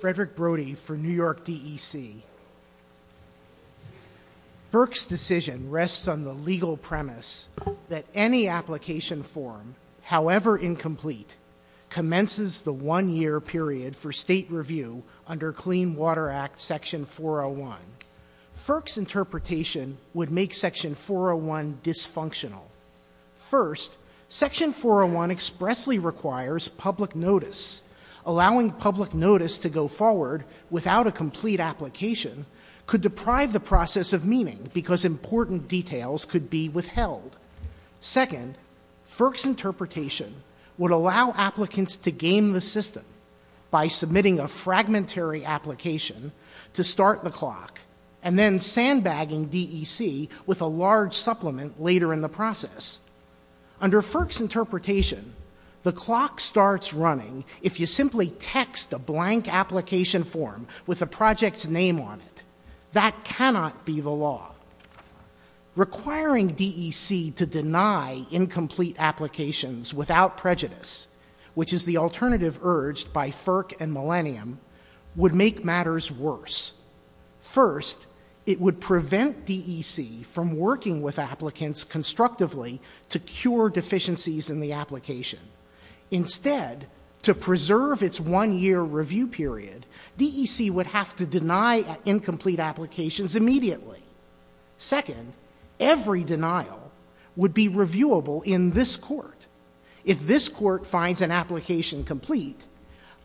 Frederick Brody for New York DEC. FERC's decision rests on the legal premise that any application form, however incomplete, commences the one-year period for state review under Clean Water Act section 401. FERC's interpretation would make section 401 dysfunctional. First, section 401 expressly requires public notice, allowing public notice to go forward without a complete application could deprive the process of meaning because important details could be withheld. Second, FERC's interpretation would allow applicants to game the system by submitting a fragmentary application to start the clock and then sandbagging DEC with a large supplement later in the process. Under FERC's interpretation, the if you simply text a blank application form with a project's name on it, that cannot be the law. Requiring DEC to deny incomplete applications without prejudice, which is the alternative urged by FERC and Millennium, would make matters worse. First, it would prevent DEC from working with applicants constructively to cure deficiencies in the application. Instead, to preserve its one-year review period, DEC would have to deny incomplete applications immediately. Second, every denial would be reviewable in this court. If this court finds an application complete,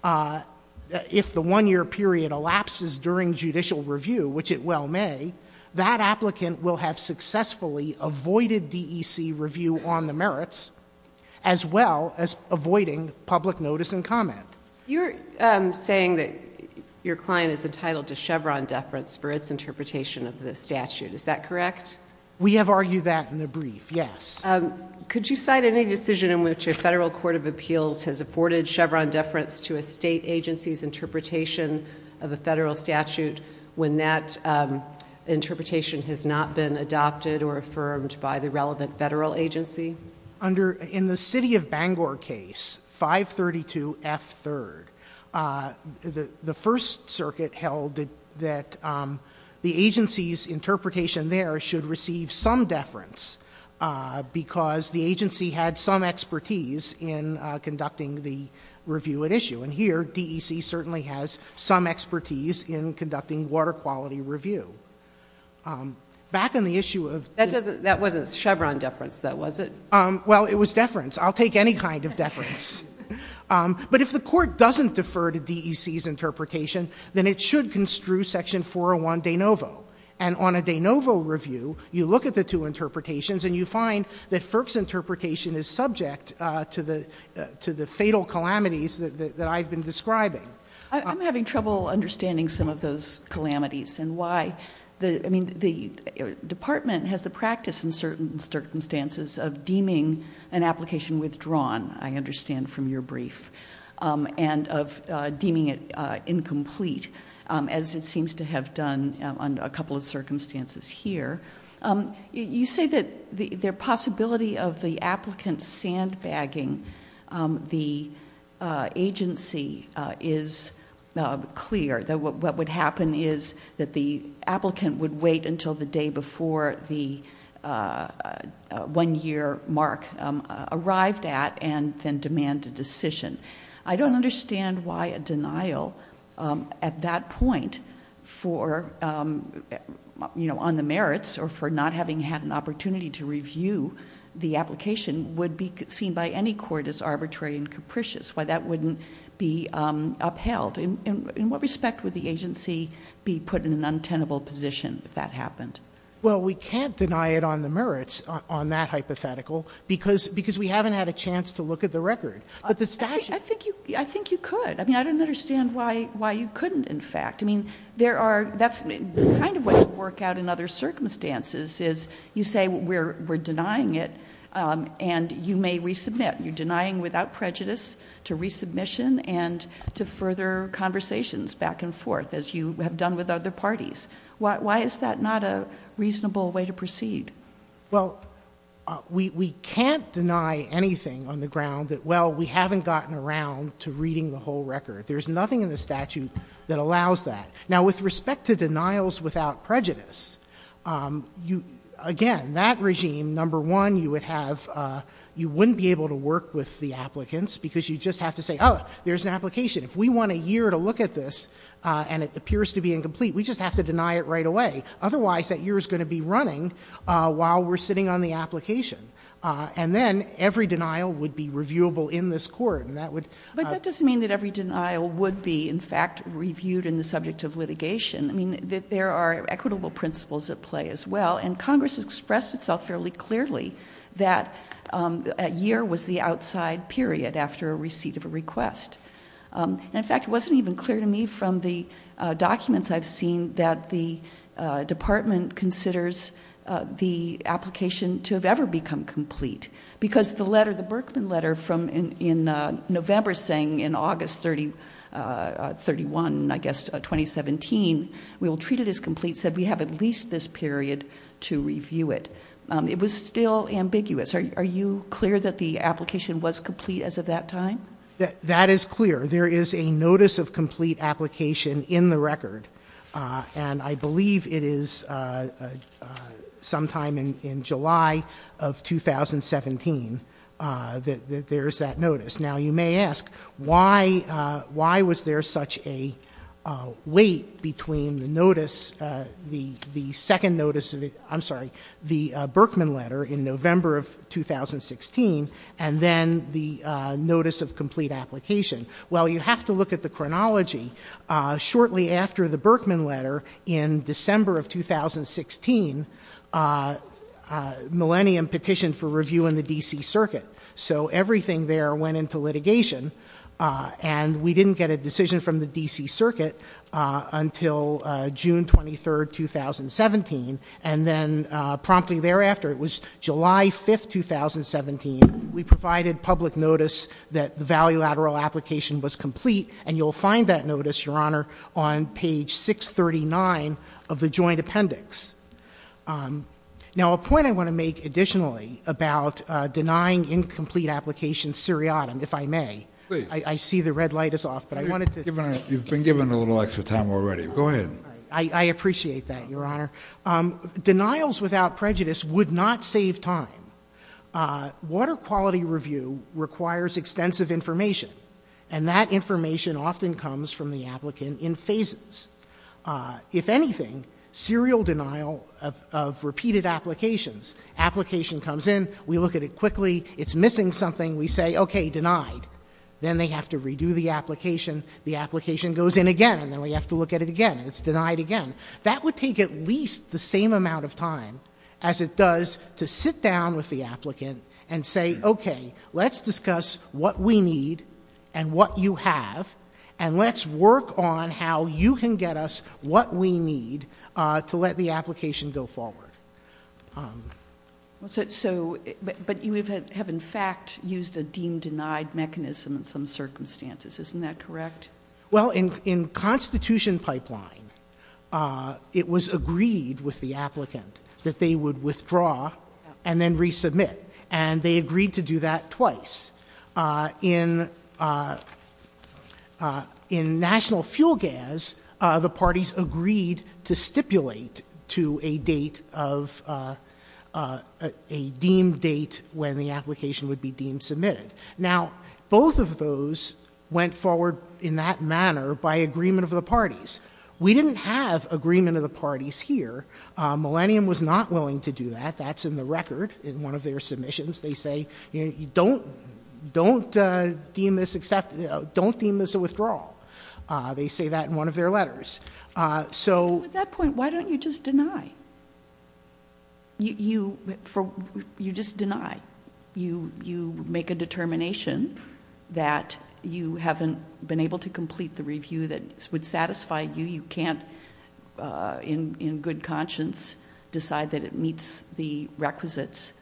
if the one-year period elapses during judicial review, which it well may, that applicant will have successfully avoided DEC review on the merits, as well as avoiding public notice and comment. You're saying that your client is entitled to Chevron deference for its interpretation of the statute. Is that correct? We have argued that in the brief, yes. Could you cite any decision in which a federal court of appeals has afforded Chevron deference to a state agency's interpretation of a federal statute when that interpretation has not been adopted or affirmed by the relevant federal agency? In the city of Bangor case, 532F3rd, the First Circuit held that the agency's interpretation there should receive some deference because the agency had some expertise in conducting water quality review. Back on the issue of the court's interpretation, it should construe Section 401 de novo. And on a de novo review, you look at the two interpretations, and you find that FERC's interpretation is subject to the fatal calamities that I've been describing, which is that the I'm having trouble understanding some of those calamities and why. I mean, the department has the practice in certain circumstances of deeming an application withdrawn, I understand from your brief, and of deeming it incomplete, as it seems to have done under a couple of circumstances here. You say that the possibility of the applicant sandbagging the agency is clear, that what would happen is that the applicant would wait until the day before the one-year mark arrived at and then demand a decision. I don't understand why a denial at that point on the application would be seen by any court as arbitrary and capricious, why that wouldn't be upheld. In what respect would the agency be put in an untenable position if that happened? Well, we can't deny it on the merits on that hypothetical because we haven't had a chance to look at the record. But the statute... I think you could. I mean, I don't understand why you couldn't, in fact. I mean, that's kind of what would work out in other circumstances, is you say we're denying it and you may resubmit. You're denying without prejudice to resubmission and to further conversations back and forth, as you have done with other parties. Why is that not a reasonable way to proceed? Well, we can't deny anything on the ground that, well, we haven't gotten around to reading the whole record. There's nothing in the statute that allows that. Now, with respect to denials without prejudice, again, that regime, number one, you would have you wouldn't be able to work with the applicants because you just have to say, oh, there's an application. If we want a year to look at this and it appears to be incomplete, we just have to deny it right away. Otherwise, that year is going to be running while we're sitting on the application. And then every denial would be reviewable in this court, and that would... I mean, there are equitable principles at play as well, and Congress has expressed itself fairly clearly that a year was the outside period after a receipt of a request. And, in fact, it wasn't even clear to me from the documents I've seen that the department considers the application to have ever become complete because the letter, the Berkman letter from in November saying in August 31, I guess, 2017, we will treat it as complete, said we have at least this period to review it. It was still ambiguous. Are you clear that the application was complete as of that time? That is clear. There is a notice of complete application in the record, and I believe it is sometime in July of 2017 that there is that notice. Now, you may ask, why was there such a wait between the notice, the second notice, I'm sorry, the Berkman letter in November of 2016 and then the notice of complete application? Well, you have to look at the chronology. Shortly after the Berkman letter in December of 2016, Millennium petitioned for review in the D.C. Circuit. And we didn't get a decision from the D.C. Circuit until June 23, 2017. And then promptly thereafter, it was July 5, 2017, we provided public notice that the valuelateral application was complete. And you'll find that notice, Your Honor, on page 639 of the joint appendix. Now, a point I want to make additionally about denying incomplete application seriatim, if I may. Please. I see the red light is off. You've been given a little extra time already. Go ahead. I appreciate that, Your Honor. Denials without prejudice would not save time. Water quality review requires extensive information, and that information often comes from the applicant in phases. If anything, serial denial of repeated applications. Application comes in, we look at it quickly, it's missing something, we say, okay, denied. Then they have to redo the application, the application goes in again, and then we have to look at it again, and it's denied again. That would take at least the same amount of time as it does to sit down with the applicant and say, okay, let's discuss what we need and what you have, and let's work on how you can get us what we need to let the applicant know. But you have, in fact, used a deemed denied mechanism in some circumstances. Isn't that correct? Well, in Constitution pipeline, it was agreed with the applicant that they would withdraw and then resubmit. And they agreed to do that twice. In national fuel gas, the parties agreed to stipulate to a date of a deemed date when the application would be deemed submitted. Now, both of those went forward in that manner by agreement of the parties. We didn't have agreement of the parties here. Millennium was not willing to do that. That's in the record in one of their letters. So at that point, why don't you just deny? You just deny. You make a determination that you haven't been able to complete the review that would satisfy you. You can't in good conscience decide that it meets the requisites,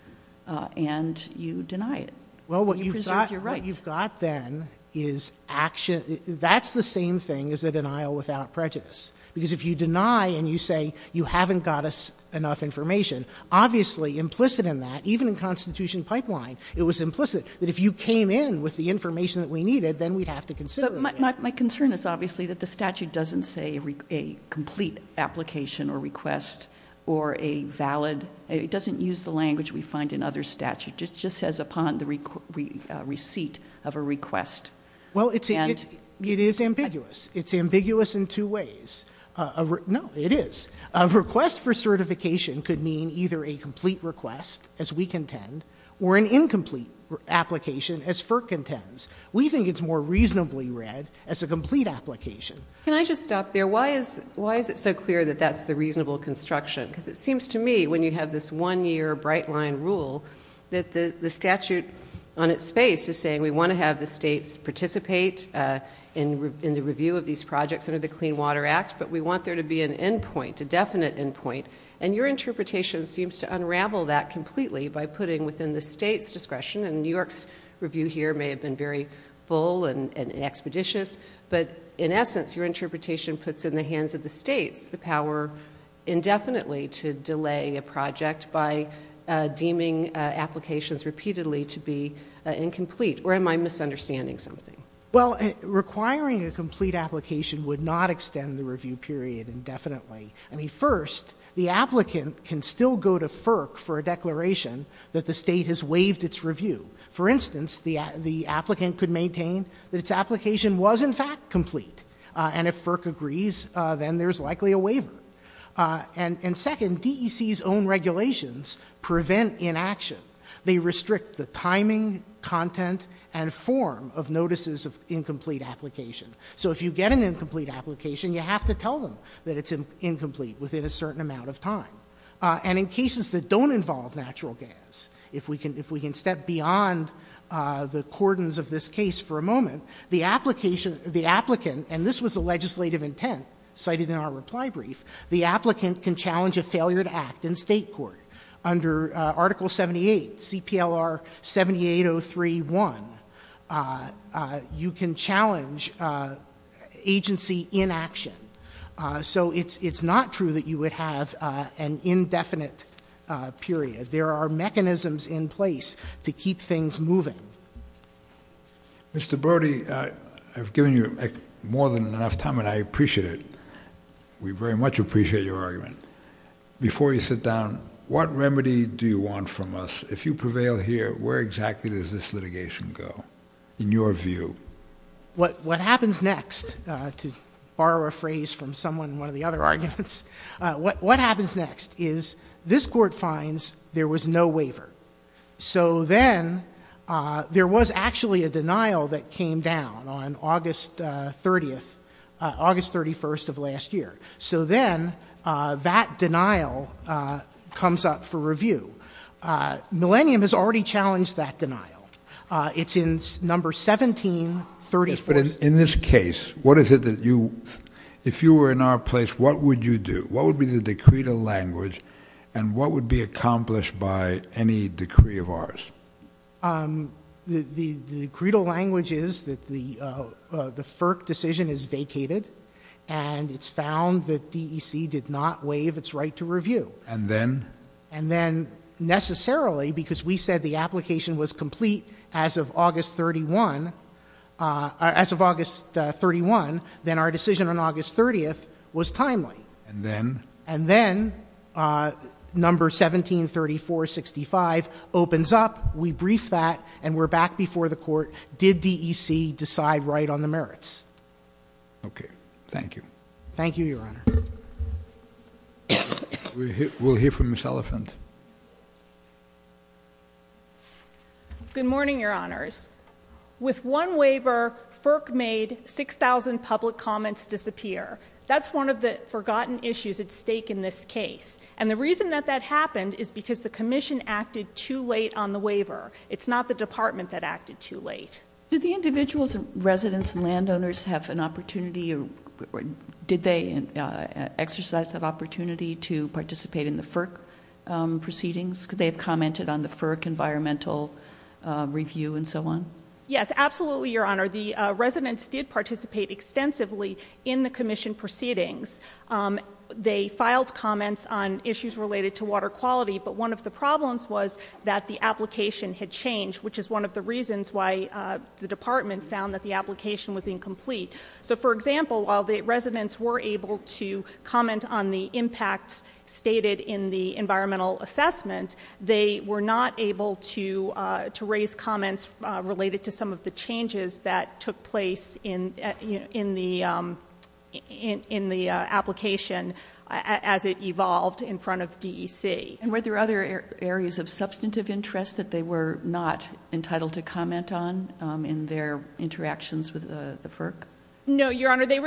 and you deny it. You preserve your rights. What you've got then is action. That's the same thing as a denial without prejudice. Because if you deny and you say you haven't got us enough information, obviously implicit in that, even in Constitution pipeline, it was implicit that if you came in with the information that we needed, then we'd have to consider it. But my concern is obviously that the statute doesn't say a complete application or request or a valid — it doesn't use the language we find in other statutes. It just says upon the receipt of a request. Well, it is ambiguous. It's ambiguous in two ways. No, it is. A request for certification could mean either a complete request, as we contend, or an incomplete application, as FERC contends. We think it's more reasonably read as a complete application. Can I just stop there? Why is it so clear that that's the reasonable construction? Because it seems to me when you have this one-year bright-line rule that the statute on its face is saying we want to have the states participate in the review of these projects under the Clean Water Act, but we want there to be an end point, a definite end point. And your interpretation seems to unravel that completely by putting within the states' discretion — and New York's review here may have been very full and expeditious — but in essence, your interpretation puts in the hands of the states the power indefinitely to delay a project by deeming applications repeatedly to be incomplete. Or am I misunderstanding something? Well, requiring a complete application would not extend the review period indefinitely. I mean, first, the applicant can still go to FERC for a declaration that the state has waived its review. For instance, the applicant could maintain that its application was, in fact, complete. And if FERC agrees, then there's likely a waiver. And second, DEC's own regulations prevent inaction. They restrict the timing, content, and form of notices of incomplete application. So if you get an incomplete application, you have to tell them that it's incomplete within a certain amount of time. And in cases that don't involve natural gas, if we can step beyond the cordons of this case for a moment, the application — the applicant — and this was the legislative intent cited in our reply brief — the applicant can challenge a failure to act in state court. Under Article 78, CPLR 7803.1, you can challenge agency inaction. So it's not true that you would have an indefinite period. There are mechanisms in place to keep things moving. Mr. Brody, I've given you more than enough time, and I appreciate it. We very much appreciate your argument. Before you sit down, what remedy do you want from us? If you prevail here, where exactly does this litigation go, in your view? What happens next — to borrow a phrase from someone in one of the other arguments — what happens next is this Court finds there was no waiver. So then there was actually a denial that came down on August 30th — August 31st of last year. So then that denial comes up for review. Millennium has already challenged that denial. It's in No. 1734 — But in this case, what is it that you — if you were in our place, what would you do? What would be the decree to language, and what would be accomplished by any decree of ours? The — the credo language is that the FERC decision is vacated, and it's found that DEC did not waive its right to review. And then? And then, necessarily, because we said the application was complete as of August 31 — as of August 31, then our decision on August 30th was timely. And then? And then, No. 1734-65 opens up. We brief that, and we're back before the Court. Did DEC decide right on the merits? Okay. Thank you. Thank you, Your Honor. We'll hear from Ms. Elephant. Good morning, Your Honors. With one waiver, FERC made 6,000 public comments disappear. That's one of the forgotten issues at stake in this case. And the reason that that happened is because the Commission acted too late on the waiver. It's not the Department that acted too late. Did the individuals and residents and landowners have an opportunity or — did they exercise that opportunity to participate in the FERC proceedings? Could they have commented on the FERC environmental review and so on? Yes, absolutely, Your Honor. The residents did participate extensively in the Commission proceedings. They filed comments on issues related to water quality. But one of the problems was that the application had changed, which is one of the reasons why the Department found that the application was incomplete. So, for example, while the residents were able to comment on the impacts stated in the environmental assessment, they were not able to raise comments related to some of the changes that took place in the application as it evolved in front of DEC. And were there other areas of substantive interest that they were not entitled to comment on in their interactions with the FERC? No, Your Honor. The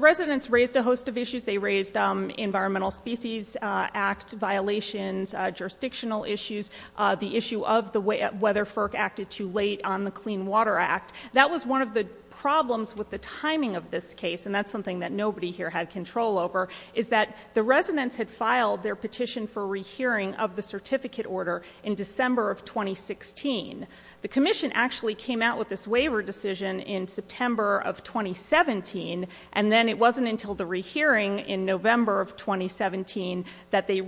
residents raised a host of issues. They raised Environmental Species Act violations, jurisdictional issues, the issue of whether FERC acted too late on the Clean Water Act. That was one of the problems with the timing of this case, and that's something that nobody here had control over, is that the residents had filed their petition for rehearing of the certificate order in December of 2016. The Commission actually came out with this waiver decision in September of 2017, and then it wasn't until the rehearing in November of 2017 that they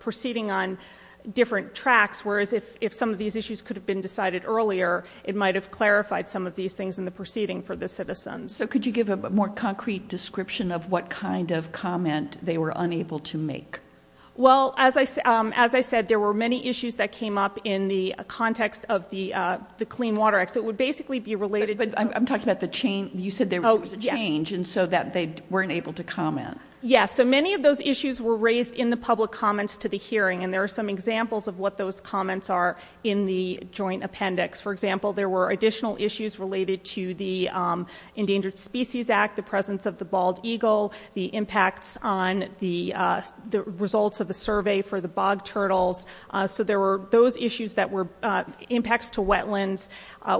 proceeded on different tracks, whereas if some of these issues could have been decided earlier, it might have clarified some of these things in the proceeding for the citizens. So could you give a more concrete description of what kind of comment they were unable to make? Well, as I said, there were many issues that came up in the context of the Clean Water Act. So it would basically be related to... I'm talking about the change. You said there was a change, and so that they weren't able to comment. Yes. So many of those issues were raised in the public comments to the hearing, and there are some examples of what those comments are in the joint appendix. For example, there were additional issues related to the Endangered Species Act, the presence of the bald eagle, the impacts on the results of the survey for the bog turtles. So there were those issues that were impacts to wetlands,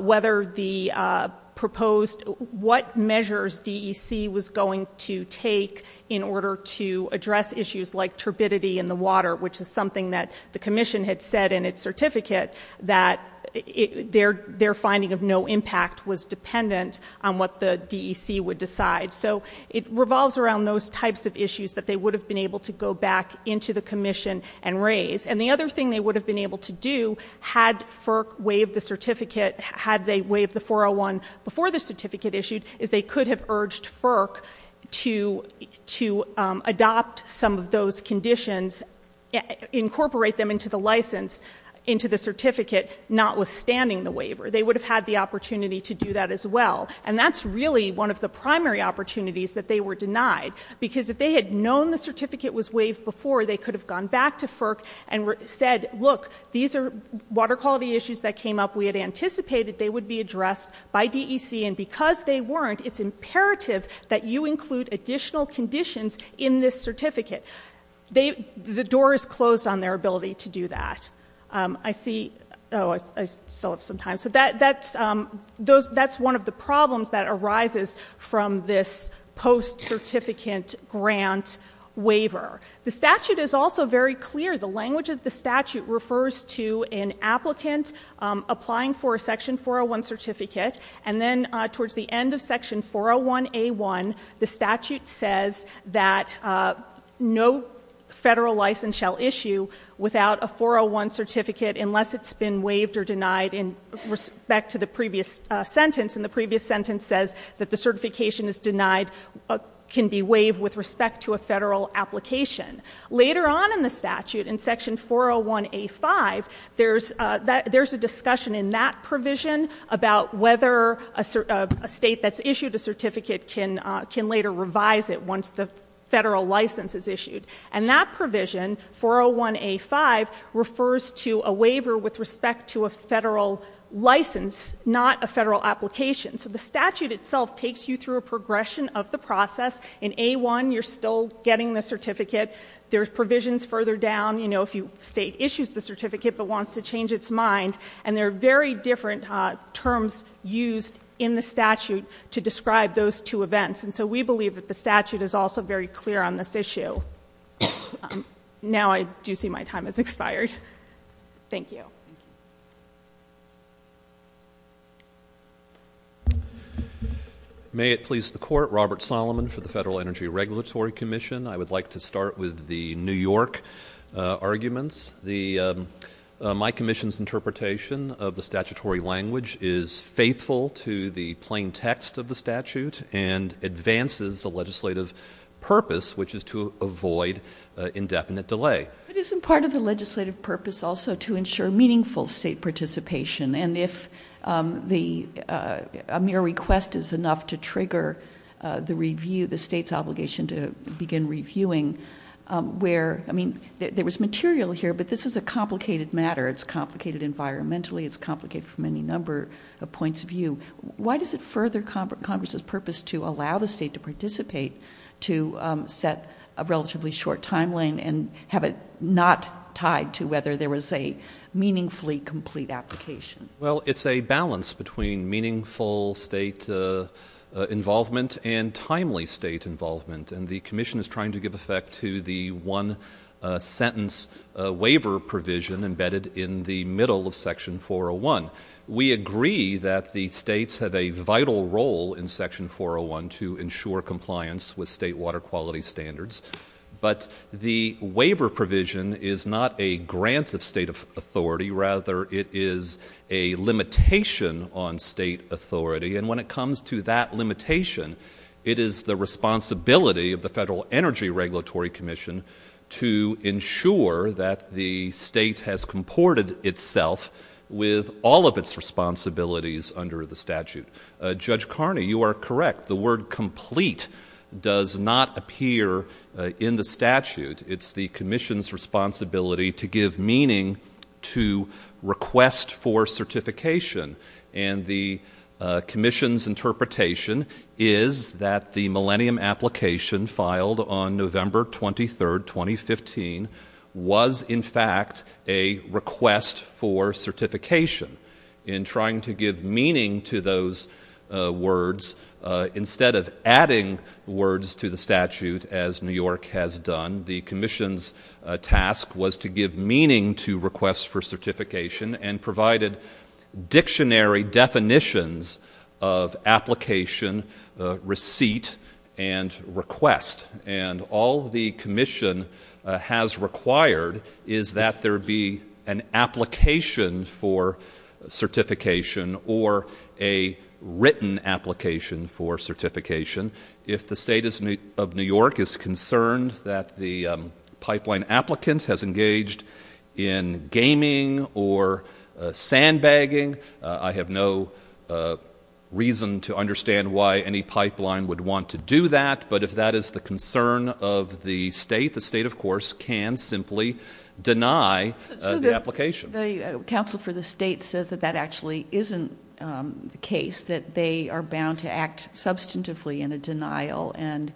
whether the proposed... what measures DEC was going to take in order to address issues like turbidity in the water, which is something that the Commission had said in its certificate that their finding of no impact was dependent on what the DEC would decide. So it revolves around those types of issues that they would have been able to go back into the Commission and raise. And the other thing they would have been able to do, had FERC waived the certificate, had they waived the 401 before the certificate issued, is they could have urged FERC to adopt some of those conditions, incorporate them into the license, into the certificate, notwithstanding the waiver. They would have had the opportunity to do that as well. And that's really one of the primary opportunities that they were denied, because if they had known the certificate was waived before, they could have gone back to FERC and said, look, these are water quality issues that came up. We had anticipated they would be addressed by DEC. And because they weren't, it's imperative that you include additional conditions in this certificate. The door is closed on their ability to do that. I see — oh, I still have some time. So that's one of the problems that arises from this post-certificate grant waiver. The statute is also very clear. The language of the statute refers to an applicant applying for a Section 401 certificate. And then towards the end of Section 401A1, the statute says that no federal license shall issue without a 401 certificate unless it's been waived or denied in respect to the previous sentence. And the previous sentence says that the certification is denied can be waived with respect to a federal application. Later on in the statute, in Section 401A5, there's a discussion in that provision about whether a state that's issued a certificate can later revise it once the federal license is issued. And that provision, 401A5, refers to a waiver with respect to a federal license, not a federal application. So the statute itself takes you through a progression of the process. In A1, you're still getting the certificate. There's provisions further down, you know, if the state issues the certificate but wants to change its mind. And there are very different terms used in the statute to describe those two events. And so we believe that the statute is also very clear on this issue. Now I do see my time has expired. Thank you. May it please the Court. Robert Solomon for the Federal Energy Regulatory Commission. I would like to start with the New York arguments. My commission's interpretation of the statutory language is faithful to the plain text of the statute and advances the legislative purpose, which is to avoid indefinite delay. But isn't part of the legislative purpose also to ensure meaningful state participation? And if a mere request is enough to trigger the review, the state's obligation to begin reviewing, where, I mean, there was material here, but this is a complicated matter. It's complicated environmentally. It's complicated from any number of points of view. Why does it further Congress's purpose to allow the state to participate to set a relatively short timeline and have it not tied to whether there was a meaningfully complete application? Well, it's a balance between meaningful state involvement and timely state involvement. And the commission is trying to give effect to the one-sentence waiver provision embedded in the middle of Section 401. We agree that the states have a vital role in Section 401 to ensure compliance with state water quality standards. But the waiver provision is not a grant of state authority. Rather, it is a limitation on state authority. And when it comes to that limitation, it is the responsibility of the Federal Energy Regulatory Commission to ensure that the state has comported itself with all of its responsibilities under the statute. Judge Carney, you are correct. The word complete does not appear in the statute. It's the commission's responsibility to give meaning to request for certification. And the commission's interpretation is that the Millennium application filed on November 23, 2015, was in fact a request for certification. In trying to give meaning to those words, instead of adding words to the statute as New York has done, the commission's task was to give meaning to requests for certification and provided dictionary definitions of application, receipt, and request. And all the commission has required is that there be an application for certification or a written application for certification. If the state of New York is concerned that the pipeline applicant has engaged in gaming or sandbagging, I have no reason to understand why any pipeline would want to do that. But if that is the concern of the state, the state, of course, can simply deny the application. The counsel for the state says that that actually isn't the case, that they are bound to act substantively in a denial. And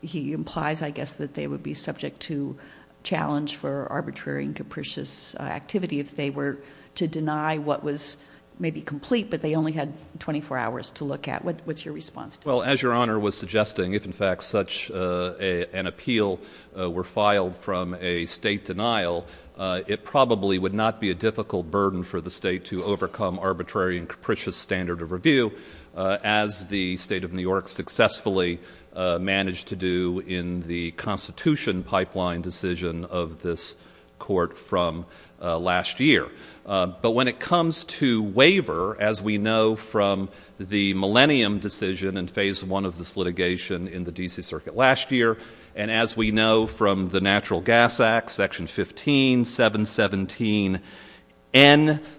he implies, I guess, that they would be subject to challenge for arbitrary and capricious activity if they were to deny what was maybe complete, but they only had 24 hours to look at. What's your response to that? Well, as Your Honor was suggesting, if in fact such an appeal were filed from a state denial, it probably would not be a difficult burden for the state to overcome arbitrary and capricious standard of review, as the state of New York successfully managed to do in the Constitution pipeline decision of this court from last year. But when it comes to waiver, as we know from the Millennium decision and Phase I of this litigation in the D.C. Circuit last year, and as we know from the Natural Gas Act, Section 15, 717N,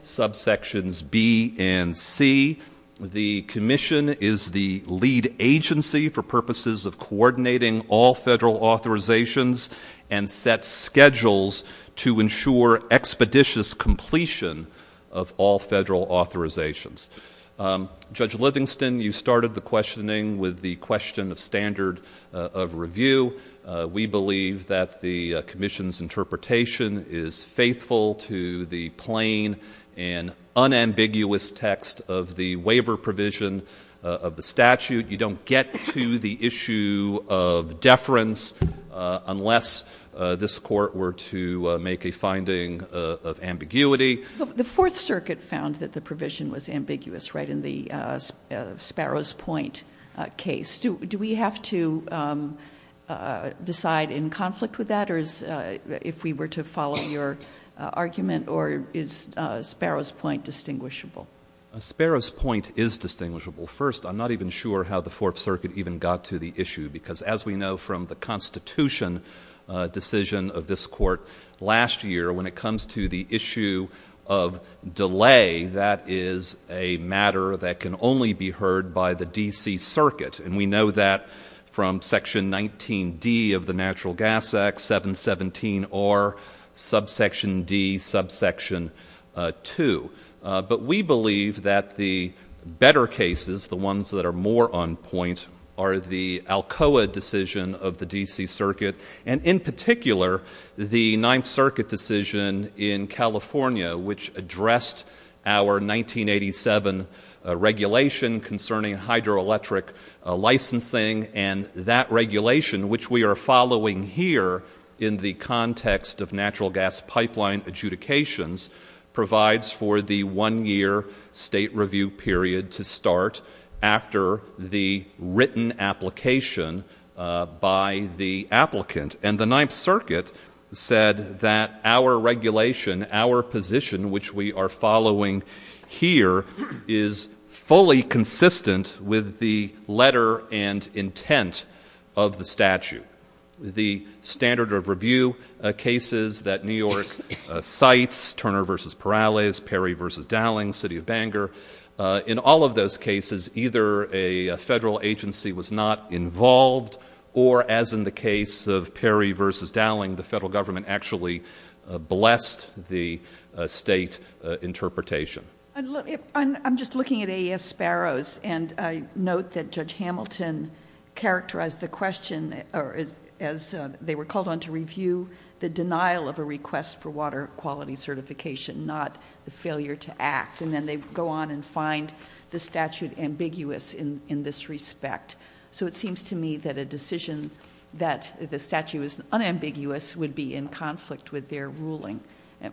subsections B and C, the Commission is the lead agency for purposes of coordinating all federal authorizations and sets schedules to ensure expeditious completion of all federal authorizations. Judge Livingston, you started the questioning with the question of standard of review. We believe that the Commission's interpretation is faithful to the plain and unambiguous text of the waiver provision of the statute. You don't get to the issue of deference unless this court were to make a finding of ambiguity. The Fourth Circuit found that the provision was ambiguous, right, in the Sparrows Point case. Do we have to decide in conflict with that, or if we were to follow your argument, or is Sparrows Point distinguishable? Sparrows Point is distinguishable. First, I'm not even sure how the Fourth Circuit even got to the issue, because as we know from the Constitution decision of this court last year, when it comes to the issue of delay, that is a matter that can only be heard by the D.C. Circuit, and we know that from Section 19D of the Natural Gas Act, 717R, subsection D, subsection 2. But we believe that the better cases, the ones that are more on point, are the Alcoa decision of the D.C. Circuit, and in particular, the Ninth Circuit decision in California, which addressed our 1987 regulation concerning hydroelectric licensing, and that regulation, which we are following here in the context of natural gas pipeline adjudications, provides for the one-year state review period to start after the written application by the applicant. And the Ninth Circuit said that our regulation, our position, which we are following here, is fully consistent with the letter and intent of the statute. The standard of review cases that New York cites, Turner v. Perales, Perry v. Dowling, City of Bangor, in all of those cases, either a federal agency was not involved, or, as in the case of Perry v. Dowling, the federal government actually blessed the state interpretation. I'm just looking at AES Sparrows, and I note that Judge Hamilton characterized the question, or as they were called on to review, the denial of a request for water quality certification, not the failure to act. And then they go on and find the statute ambiguous in this respect. So it seems to me that a decision that the statute was unambiguous would be in conflict with their ruling.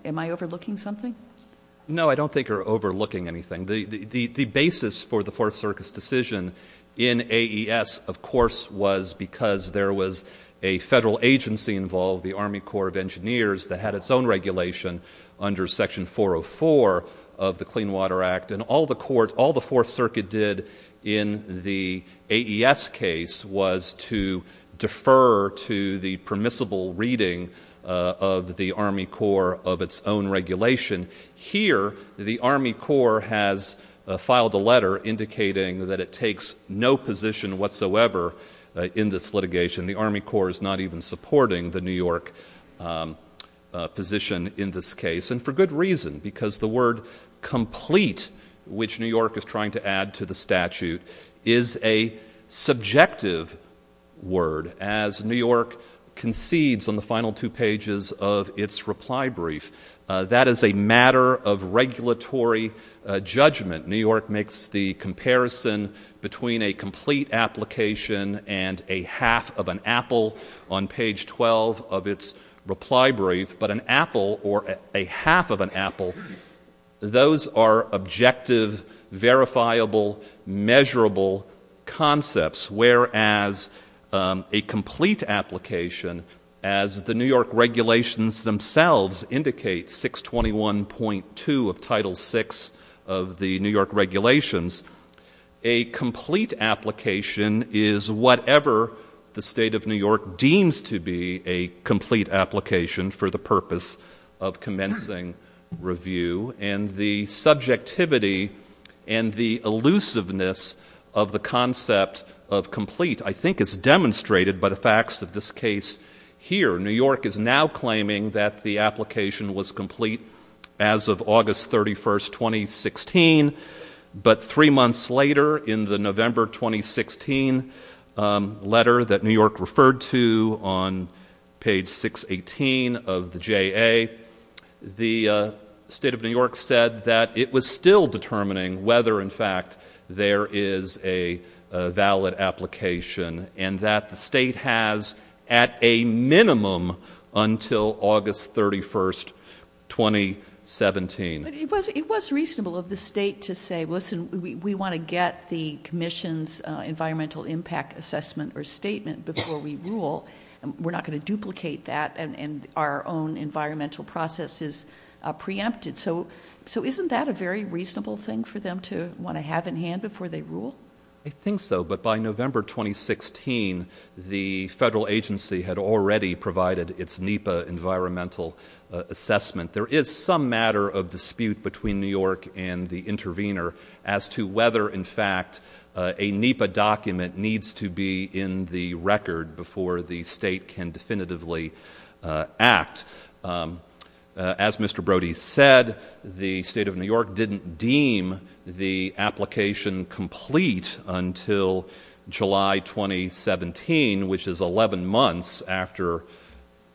Am I overlooking something? No, I don't think you're overlooking anything. The basis for the Fourth Circuit's decision in AES, of course, was because there was a federal agency involved, the Army Corps of Engineers, that had its own regulation under Section 404 of the Clean Water Act, and all the Fourth Circuit did in the AES case was to defer to the permissible reading of the Army Corps of its own regulation. Here, the Army Corps has filed a letter indicating that it takes no position whatsoever in this litigation. The Army Corps is not even supporting the New York position in this case, and for good reason, because the word complete, which New York is trying to add to the statute, is a subjective word, as New York concedes on the final two pages of its reply brief. That is a matter of regulatory judgment. New York makes the comparison between a complete application and a half of an apple on page 12 of its reply brief, but an apple or a half of an apple, those are objective, verifiable, measurable concepts, whereas a complete application, as the New York regulations themselves indicate, 621.2 of Title VI of the New York regulations, a complete application is whatever the State of New York deems to be a complete application for the purpose of commencing review, and the subjectivity and the elusiveness of the concept of complete, I think, is demonstrated by the facts of this case here. New York is now claiming that the application was complete as of August 31, 2016, but three months later, in the November 2016 letter that New York referred to on page 618 of the JA, the State of New York said that it was still determining whether, in fact, there is a valid application, and that the State has at a minimum until August 31, 2017. But it was reasonable of the State to say, listen, we want to get the commission's environmental impact assessment or statement before we rule. We're not going to duplicate that, and our own environmental process is preempted. So isn't that a very reasonable thing for them to want to have in hand before they rule? I think so, but by November 2016, the federal agency had already provided its NEPA environmental assessment. There is some matter of dispute between New York and the intervener as to whether, in fact, a NEPA document needs to be in the record before the State can definitively act. As Mr. Brody said, the State of New York didn't deem the application complete until July 2017, which is 11 months after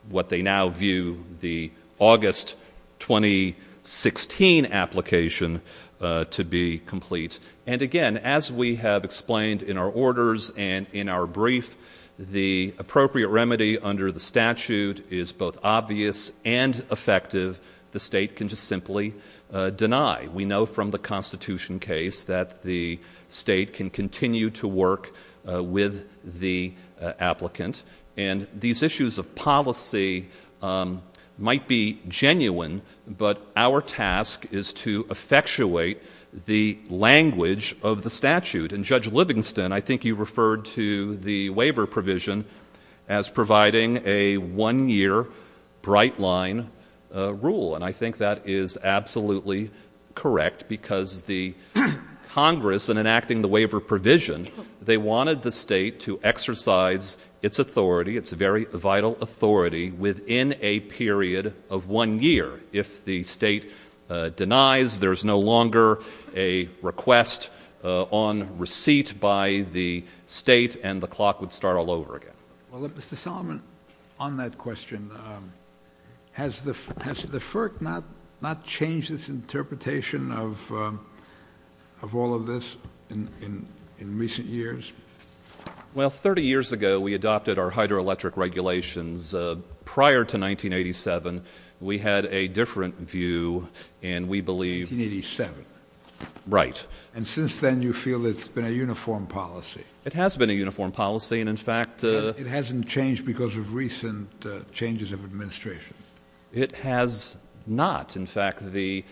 what they now view the August 2016 application to be complete. And again, as we have explained in our orders and in our brief, the appropriate remedy under the statute is both obvious and effective. The State can just simply deny. We know from the Constitution case that the State can continue to work with the applicant. And these issues of policy might be genuine, but our task is to effectuate the language of the statute. And Judge Livingston, I think you referred to the waiver provision as providing a one-year bright-line rule. And I think that is absolutely correct, because the Congress, in enacting the waiver provision, they wanted the State to exercise its authority, its very vital authority, within a period of one year. If the State denies, there is no longer a request on receipt by the State, and the clock would start all over again. Well, Mr. Solomon, on that question, has the FERC not changed its interpretation of all of this in recent years? Well, 30 years ago, we adopted our hydroelectric regulations. Prior to 1987, we had a different view, and we believe... 1987. Right. And since then, you feel it's been a uniform policy. It has been a uniform policy, and in fact... It hasn't changed because of recent changes of administration. It has not. In fact, the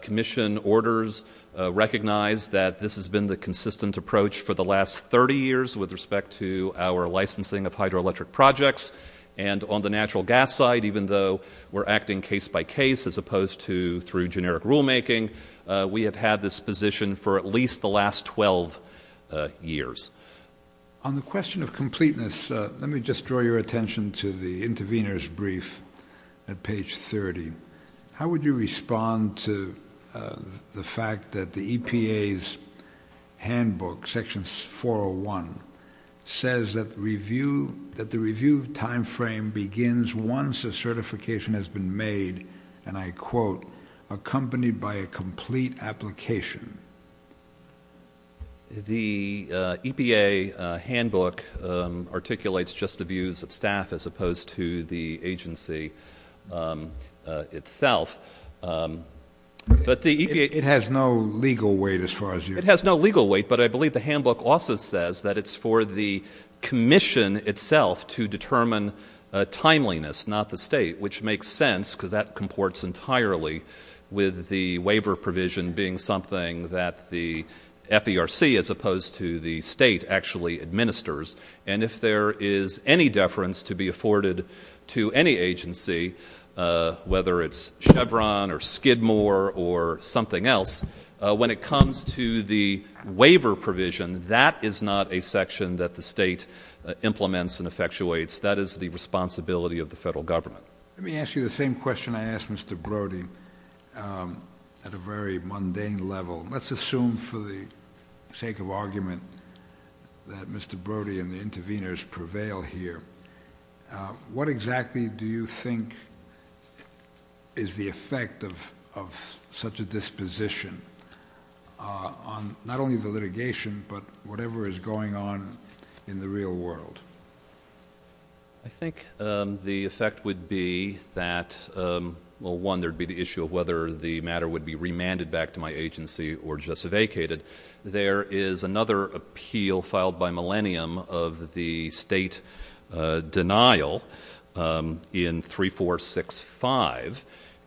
commission orders recognize that this has been the consistent approach for the last 30 years with respect to our licensing of hydroelectric projects. And on the natural gas side, even though we're acting case-by-case as opposed to through generic rulemaking, we have had this position for at least the last 12 years. On the question of completeness, let me just draw your attention to the intervener's brief at page 30. How would you respond to the fact that the EPA's handbook, Section 401, says that the review time frame begins once a certification has been made, and I quote, accompanied by a complete application? The EPA handbook articulates just the views of staff as opposed to the agency itself. It has no legal weight as far as you're concerned. It has no legal weight, but I believe the handbook also says that it's for the commission itself to determine timeliness, not the state, which makes sense because that comports entirely with the waiver provision being something that the FERC, as opposed to the state, actually administers. And if there is any deference to be afforded to any agency, whether it's Chevron or Skidmore or something else, when it comes to the waiver provision, that is not a section that the state implements and effectuates. That is the responsibility of the federal government. Let me ask you the same question I asked Mr. Brody at a very mundane level. Let's assume for the sake of argument that Mr. Brody and the interveners prevail here. What exactly do you think is the effect of such a disposition on not only the litigation, but whatever is going on in the real world? I think the effect would be that, well, one, there would be the issue of whether the matter would be remanded back to my agency or just vacated. There is another appeal filed by Millennium of the state denial in 3465.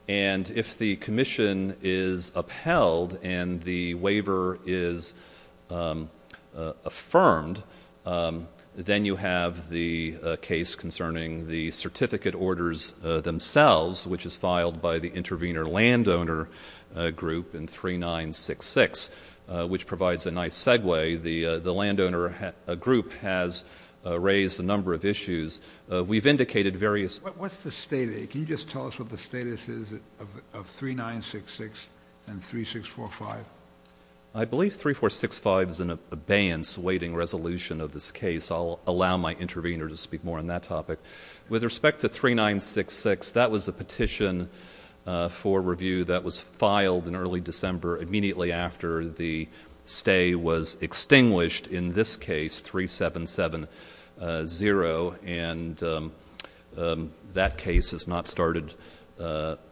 And if the commission is upheld and the waiver is affirmed, then you have the case concerning the certificate orders themselves, which is filed by the intervener landowner group in 3966, which provides a nice segue. The landowner group has raised a number of issues. We've indicated various — What's the status? Can you just tell us what the status is of 3966 and 3645? I believe 3465 is an abeyance waiting resolution of this case. I'll allow my intervener to speak more on that topic. With respect to 3966, that was a petition for review that was filed in early December, immediately after the stay was extinguished in this case, 3770. And that case has not started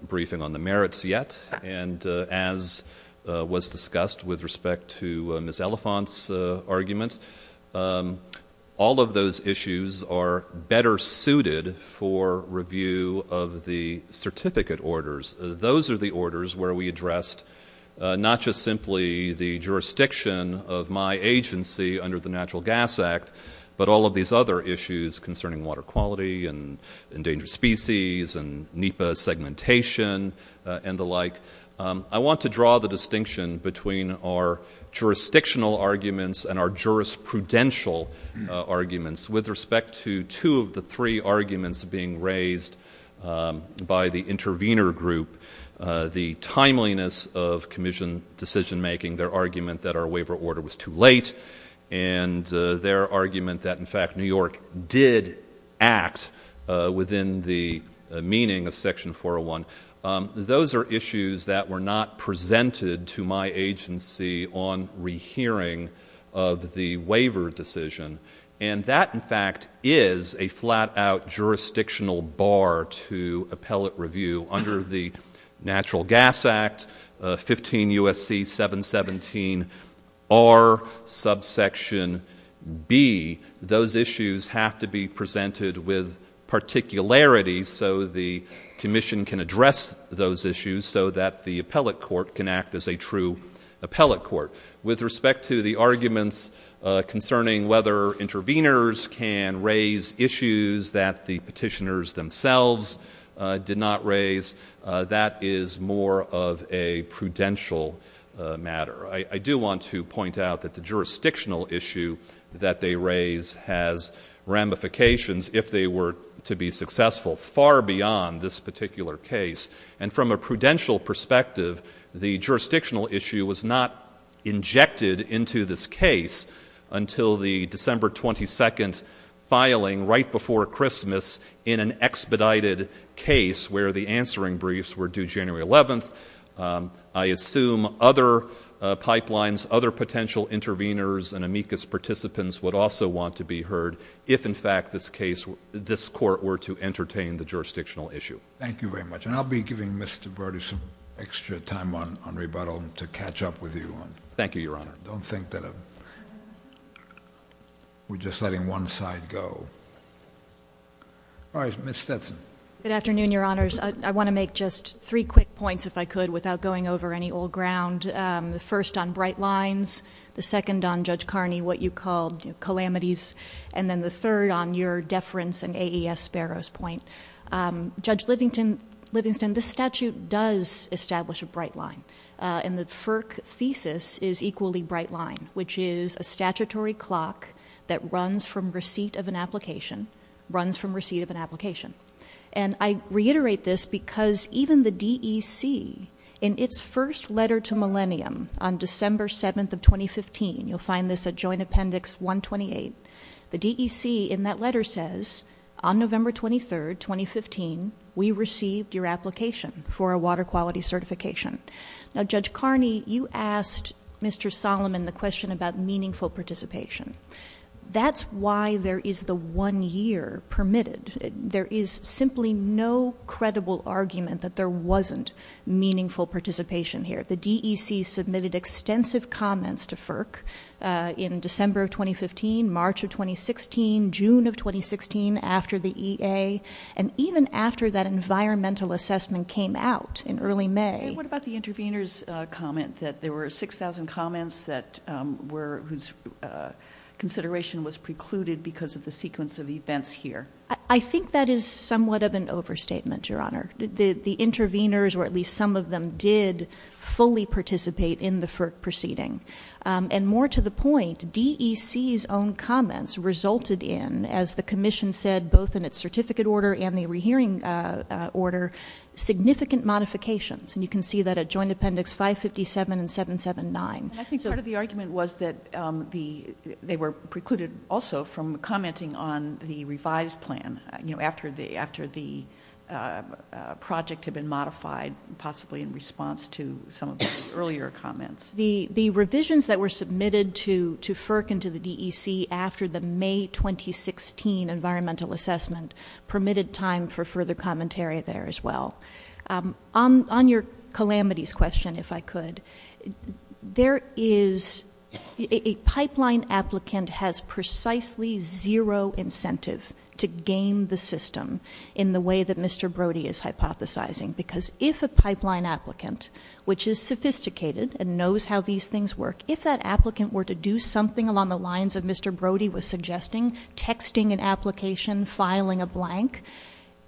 briefing on the merits yet. And as was discussed with respect to Ms. Elephant's argument, all of those issues are better suited for review of the certificate orders. Those are the orders where we addressed not just simply the jurisdiction of my agency under the Natural Gas Act, but all of these other issues concerning water quality and endangered species and NEPA segmentation and the like. I want to draw the distinction between our jurisdictional arguments and our jurisprudential arguments with respect to two of the three arguments being raised by the intervener group, the timeliness of commission decision-making, their argument that our waiver order was too late, and their argument that, in fact, New York did act within the meaning of Section 401. Those are issues that were not presented to my agency on rehearing of the waiver decision. And that, in fact, is a flat-out jurisdictional bar to appellate review. Under the Natural Gas Act, 15 U.S.C. 717 R, subsection B, those issues have to be presented with particularity so the commission can address those issues so that the appellate court can act as a true appellate court. With respect to the arguments concerning whether interveners can raise issues that the petitioners themselves did not raise, that is more of a prudential matter. I do want to point out that the jurisdictional issue that they raise has ramifications, if they were to be successful, far beyond this particular case. And from a prudential perspective, the jurisdictional issue was not injected into this case until the December 22 filing right before Christmas in an expedited case where the answering briefs were due January 11th. I assume other pipelines, other potential interveners and amicus participants would also want to be heard if, in fact, this court were to entertain the jurisdictional issue. Thank you very much. And I'll be giving Mr. Berdy some extra time on rebuttal to catch up with you. Thank you, Your Honor. Don't think that we're just letting one side go. All right, Ms. Stetson. Good afternoon, Your Honors. I want to make just three quick points, if I could, without going over any old ground. The first on bright lines, the second on Judge Carney, what you called calamities, and then the third on your deference and AES Sparrow's point. Judge Livingston, this statute does establish a bright line, and the FERC thesis is equally bright line, which is a statutory clock that runs from receipt of an application, runs from receipt of an application. And I reiterate this because even the DEC, in its first letter to Millennium on December 7th of 2015, you'll find this at Joint Appendix 128, the DEC in that letter says, on November 23rd, 2015, we received your application for a water quality certification. Now, Judge Carney, you asked Mr. Solomon the question about meaningful participation. That's why there is the one year permitted. There is simply no credible argument that there wasn't meaningful participation here. The DEC submitted extensive comments to FERC in December of 2015, March of 2016, June of 2016, after the EA, and even after that environmental assessment came out in early May. What about the intervener's comment that there were 6,000 comments that were, whose consideration was precluded because of the sequence of events here? I think that is somewhat of an overstatement, Your Honor. The interveners, or at least some of them, did fully participate in the FERC proceeding. And more to the point, DEC's own comments resulted in, as the Commission said, both in its certificate order and the rehearing order, significant modifications. And you can see that at Joint Appendix 557 and 779. And I think part of the argument was that they were precluded also from commenting on the revised plan, you know, after the project had been modified, possibly in response to some of the earlier comments. The revisions that were submitted to FERC and to the DEC after the May 2016 environmental assessment permitted time for further commentary there as well. On your calamities question, if I could, a pipeline applicant has precisely zero incentive to game the system in the way that Mr. Brody is hypothesizing. Because if a pipeline applicant, which is sophisticated and knows how these things work, if that applicant were to do something along the lines of Mr. Brody was suggesting, texting an application, filing a blank,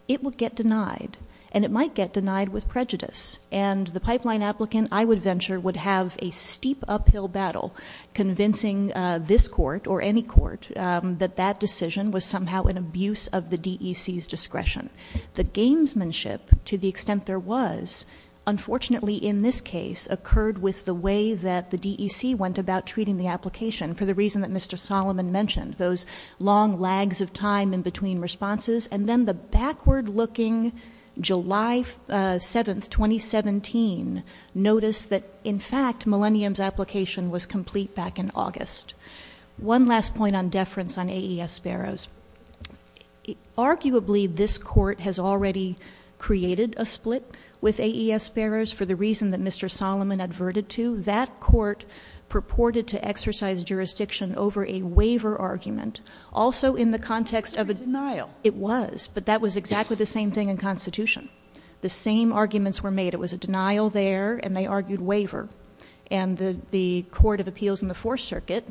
it would get denied. And it might get denied with prejudice. And the pipeline applicant, I would venture, would have a steep uphill battle convincing this court, or any court, that that decision was somehow an abuse of the DEC's discretion. The gamesmanship, to the extent there was, unfortunately in this case, occurred with the way that the DEC went about treating the application, for the reason that Mr. Solomon mentioned, those long lags of time in between responses. And then the backward looking July 7th, 2017, notice that in fact, Millennium's application was complete back in August. One last point on deference on AES Sparrows. Arguably this court has already created a split with AES Sparrows for the reason that Mr. Solomon adverted to. That court purported to exercise jurisdiction over a waiver argument. Also in the context of a- It was, but that was exactly the same thing in Constitution. The same arguments were made. It was a denial there, and they argued waiver. And the Court of Appeals in the Fourth Circuit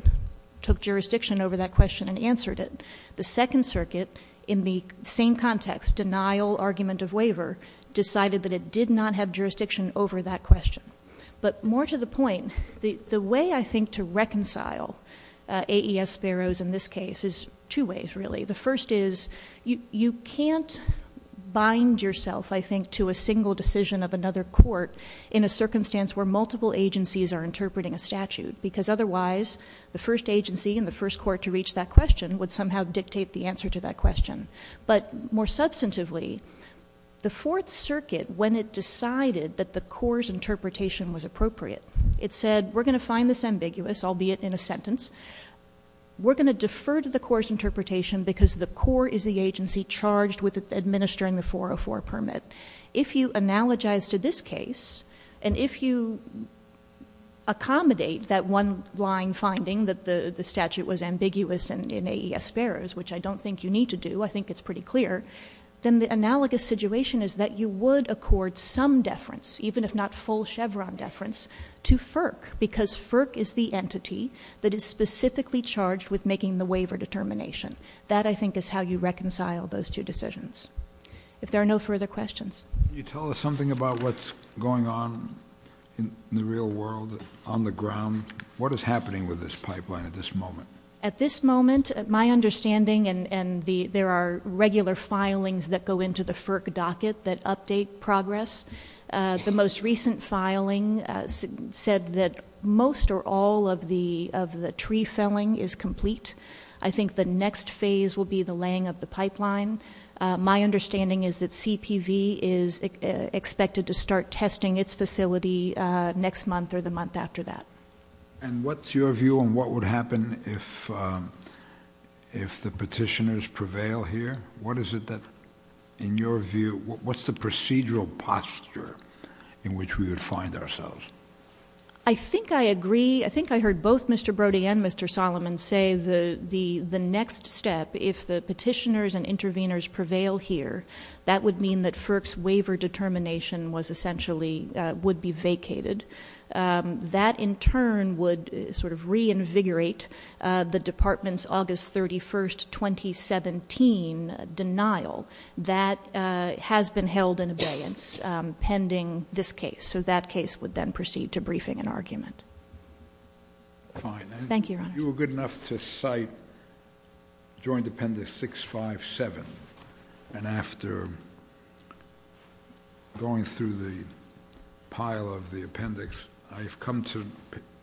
took jurisdiction over that question and answered it. The Second Circuit, in the same context, denial argument of waiver, decided that it did not have jurisdiction over that question. But more to the point, the way I think to reconcile AES Sparrows in this case is two ways, really. The first is, you can't bind yourself, I think, to a single decision of another court in a circumstance where multiple agencies are interpreting a statute. Because otherwise, the first agency and the first court to reach that question would somehow dictate the answer to that question. But more substantively, the Fourth Circuit, when it decided that the core's interpretation was appropriate, it said, we're going to find this ambiguous, albeit in a sentence. We're going to defer to the core's interpretation because the core is the agency charged with administering the 404 permit. If you analogize to this case, and if you accommodate that one line finding that the statute was ambiguous in AES Sparrows, which I don't think you need to do, I think it's pretty clear, then the analogous situation is that you would accord some deference, even if not full Chevron deference, to FERC. Because FERC is the entity that is specifically charged with making the waiver determination. That, I think, is how you reconcile those two decisions. If there are no further questions. Can you tell us something about what's going on in the real world on the ground? What is happening with this pipeline at this moment? At this moment, my understanding, and there are regular filings that go into the FERC docket that update progress. The most recent filing said that most or all of the tree felling is complete. I think the next phase will be the laying of the pipeline. My understanding is that CPV is expected to start testing its facility next month or the month after that. And what's your view on what would happen if the petitioners prevail here? What is it that, in your view, what's the procedural posture in which we would find ourselves? I think I agree. I think I heard both Mr. Brody and Mr. Solomon say the next step, if the petitioners and interveners prevail here, that would mean that FERC's waiver determination was essentially, would be vacated. That, in turn, would sort of reinvigorate the department's August 31, 2017, denial. That has been held in abeyance pending this case. So that case would then proceed to briefing and argument. Thank you, Your Honor. You were good enough to cite Joint Appendix 657. And after going through the pile of the appendix, I've come to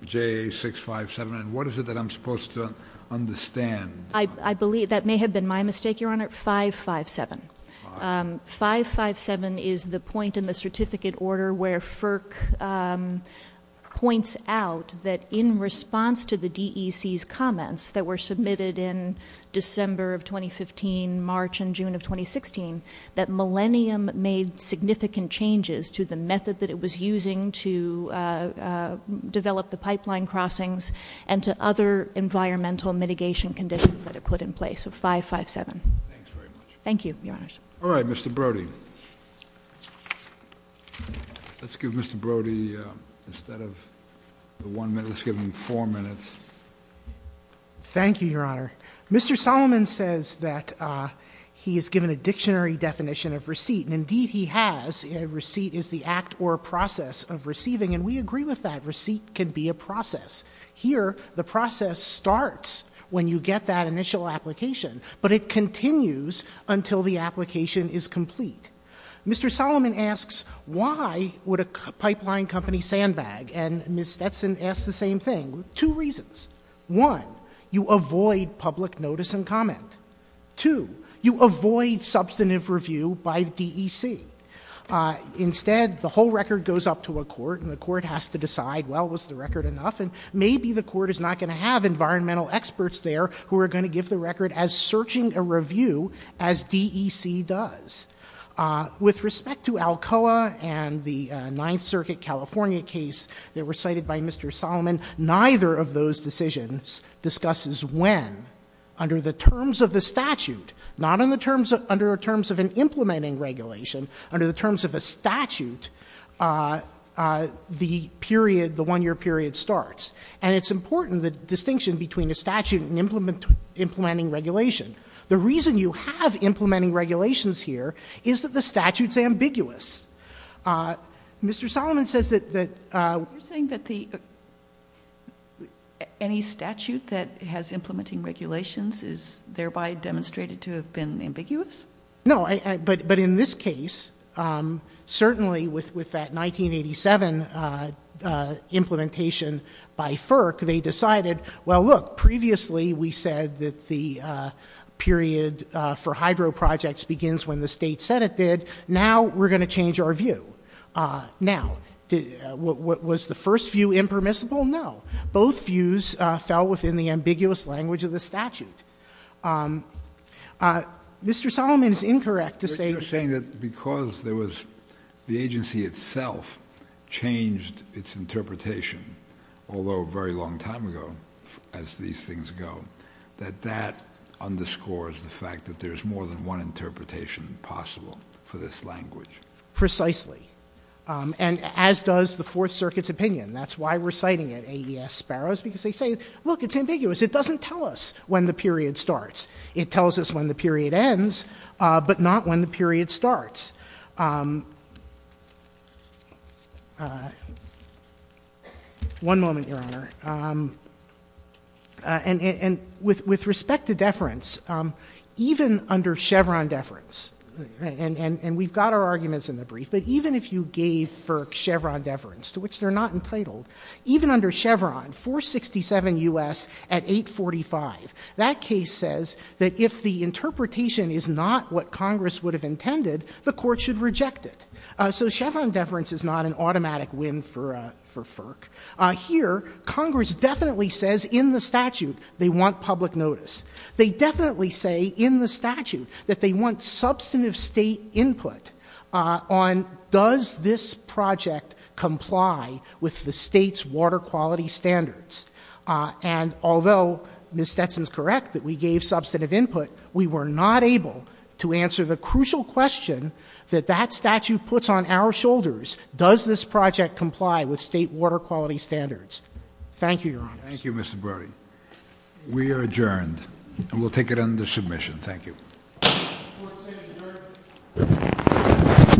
JA657. And what is it that I'm supposed to understand? I believe, that may have been my mistake, Your Honor, 557. 557 is the point in the certificate order where FERC points out that, in response to the DEC's comments that were submitted in December of 2015, March and June of 2016, that Millennium made significant changes to the method that it was using to develop the pipeline crossings and to other environmental mitigation conditions that it put in place. So 557. Thanks very much. Thank you, Your Honor. All right, Mr. Brody. Let's give Mr. Brody, instead of one minute, let's give him four minutes. Thank you, Your Honor. Mr. Solomon says that he is given a dictionary definition of receipt. And, indeed, he has. A receipt is the act or process of receiving. And we agree with that. Receipt can be a process. Here, the process starts when you get that initial application. But it continues until the application is complete. Mr. Solomon asks, why would a pipeline company sandbag? And Ms. Stetson asks the same thing. Two reasons. One, you avoid public notice and comment. Two, you avoid substantive review by the DEC. Instead, the whole record goes up to a court. And the court has to decide, well, was the record enough? And maybe the court is not going to have environmental experts there who are going to give the record as searching a review as DEC does. With respect to Alcoa and the Ninth Circuit California case that were cited by Mr. Solomon, neither of those decisions discusses when, under the terms of the statute, not under the terms of an implementing regulation, under the terms of a statute, the period, the one-year period starts. And it's important, the distinction between a statute and implementing regulation. The reason you have implementing regulations here is that the statute is ambiguous. Mr. Solomon says that the ‑‑ You're saying that any statute that has implementing regulations is thereby demonstrated to have been ambiguous? No. But in this case, certainly with that 1987 implementation by FERC, they decided, well, look, previously we said that the period for hydro projects begins when the State Senate did. Now we're going to change our view. Now, was the first view impermissible? No. Both views fell within the ambiguous language of the statute. Mr. Solomon is incorrect to say ‑‑ You're saying that because there was ‑‑ the agency itself changed its interpretation, although a very long time ago, as these things go, that that underscores the fact that there's more than one interpretation possible for this language? Precisely. And as does the Fourth Circuit's opinion. That's why we're citing it, AES Sparrows, because they say, look, it's ambiguous. It doesn't tell us when the period starts. It tells us when the period ends, but not when the period starts. One moment, Your Honor. And with respect to deference, even under Chevron deference, and we've got our arguments in the brief, but even if you gave FERC Chevron deference, to which they're not entitled, even under Chevron, 467 U.S. at 845, that case says that if the interpretation is not what Congress would have intended, the court should reject it. So Chevron deference is not an automatic win for FERC. Here, Congress definitely says in the statute they want public notice. They definitely say in the statute that they want substantive State input on does this project comply with the State's water quality standards. And although Ms. Stetson is correct that we gave substantive input, we were not able to answer the crucial question that that statute puts on our shoulders. Does this project comply with State water quality standards? Thank you, Your Honors. Thank you, Mr. Brody. We are adjourned. And we'll take it under submission. Thank you. Court is adjourned.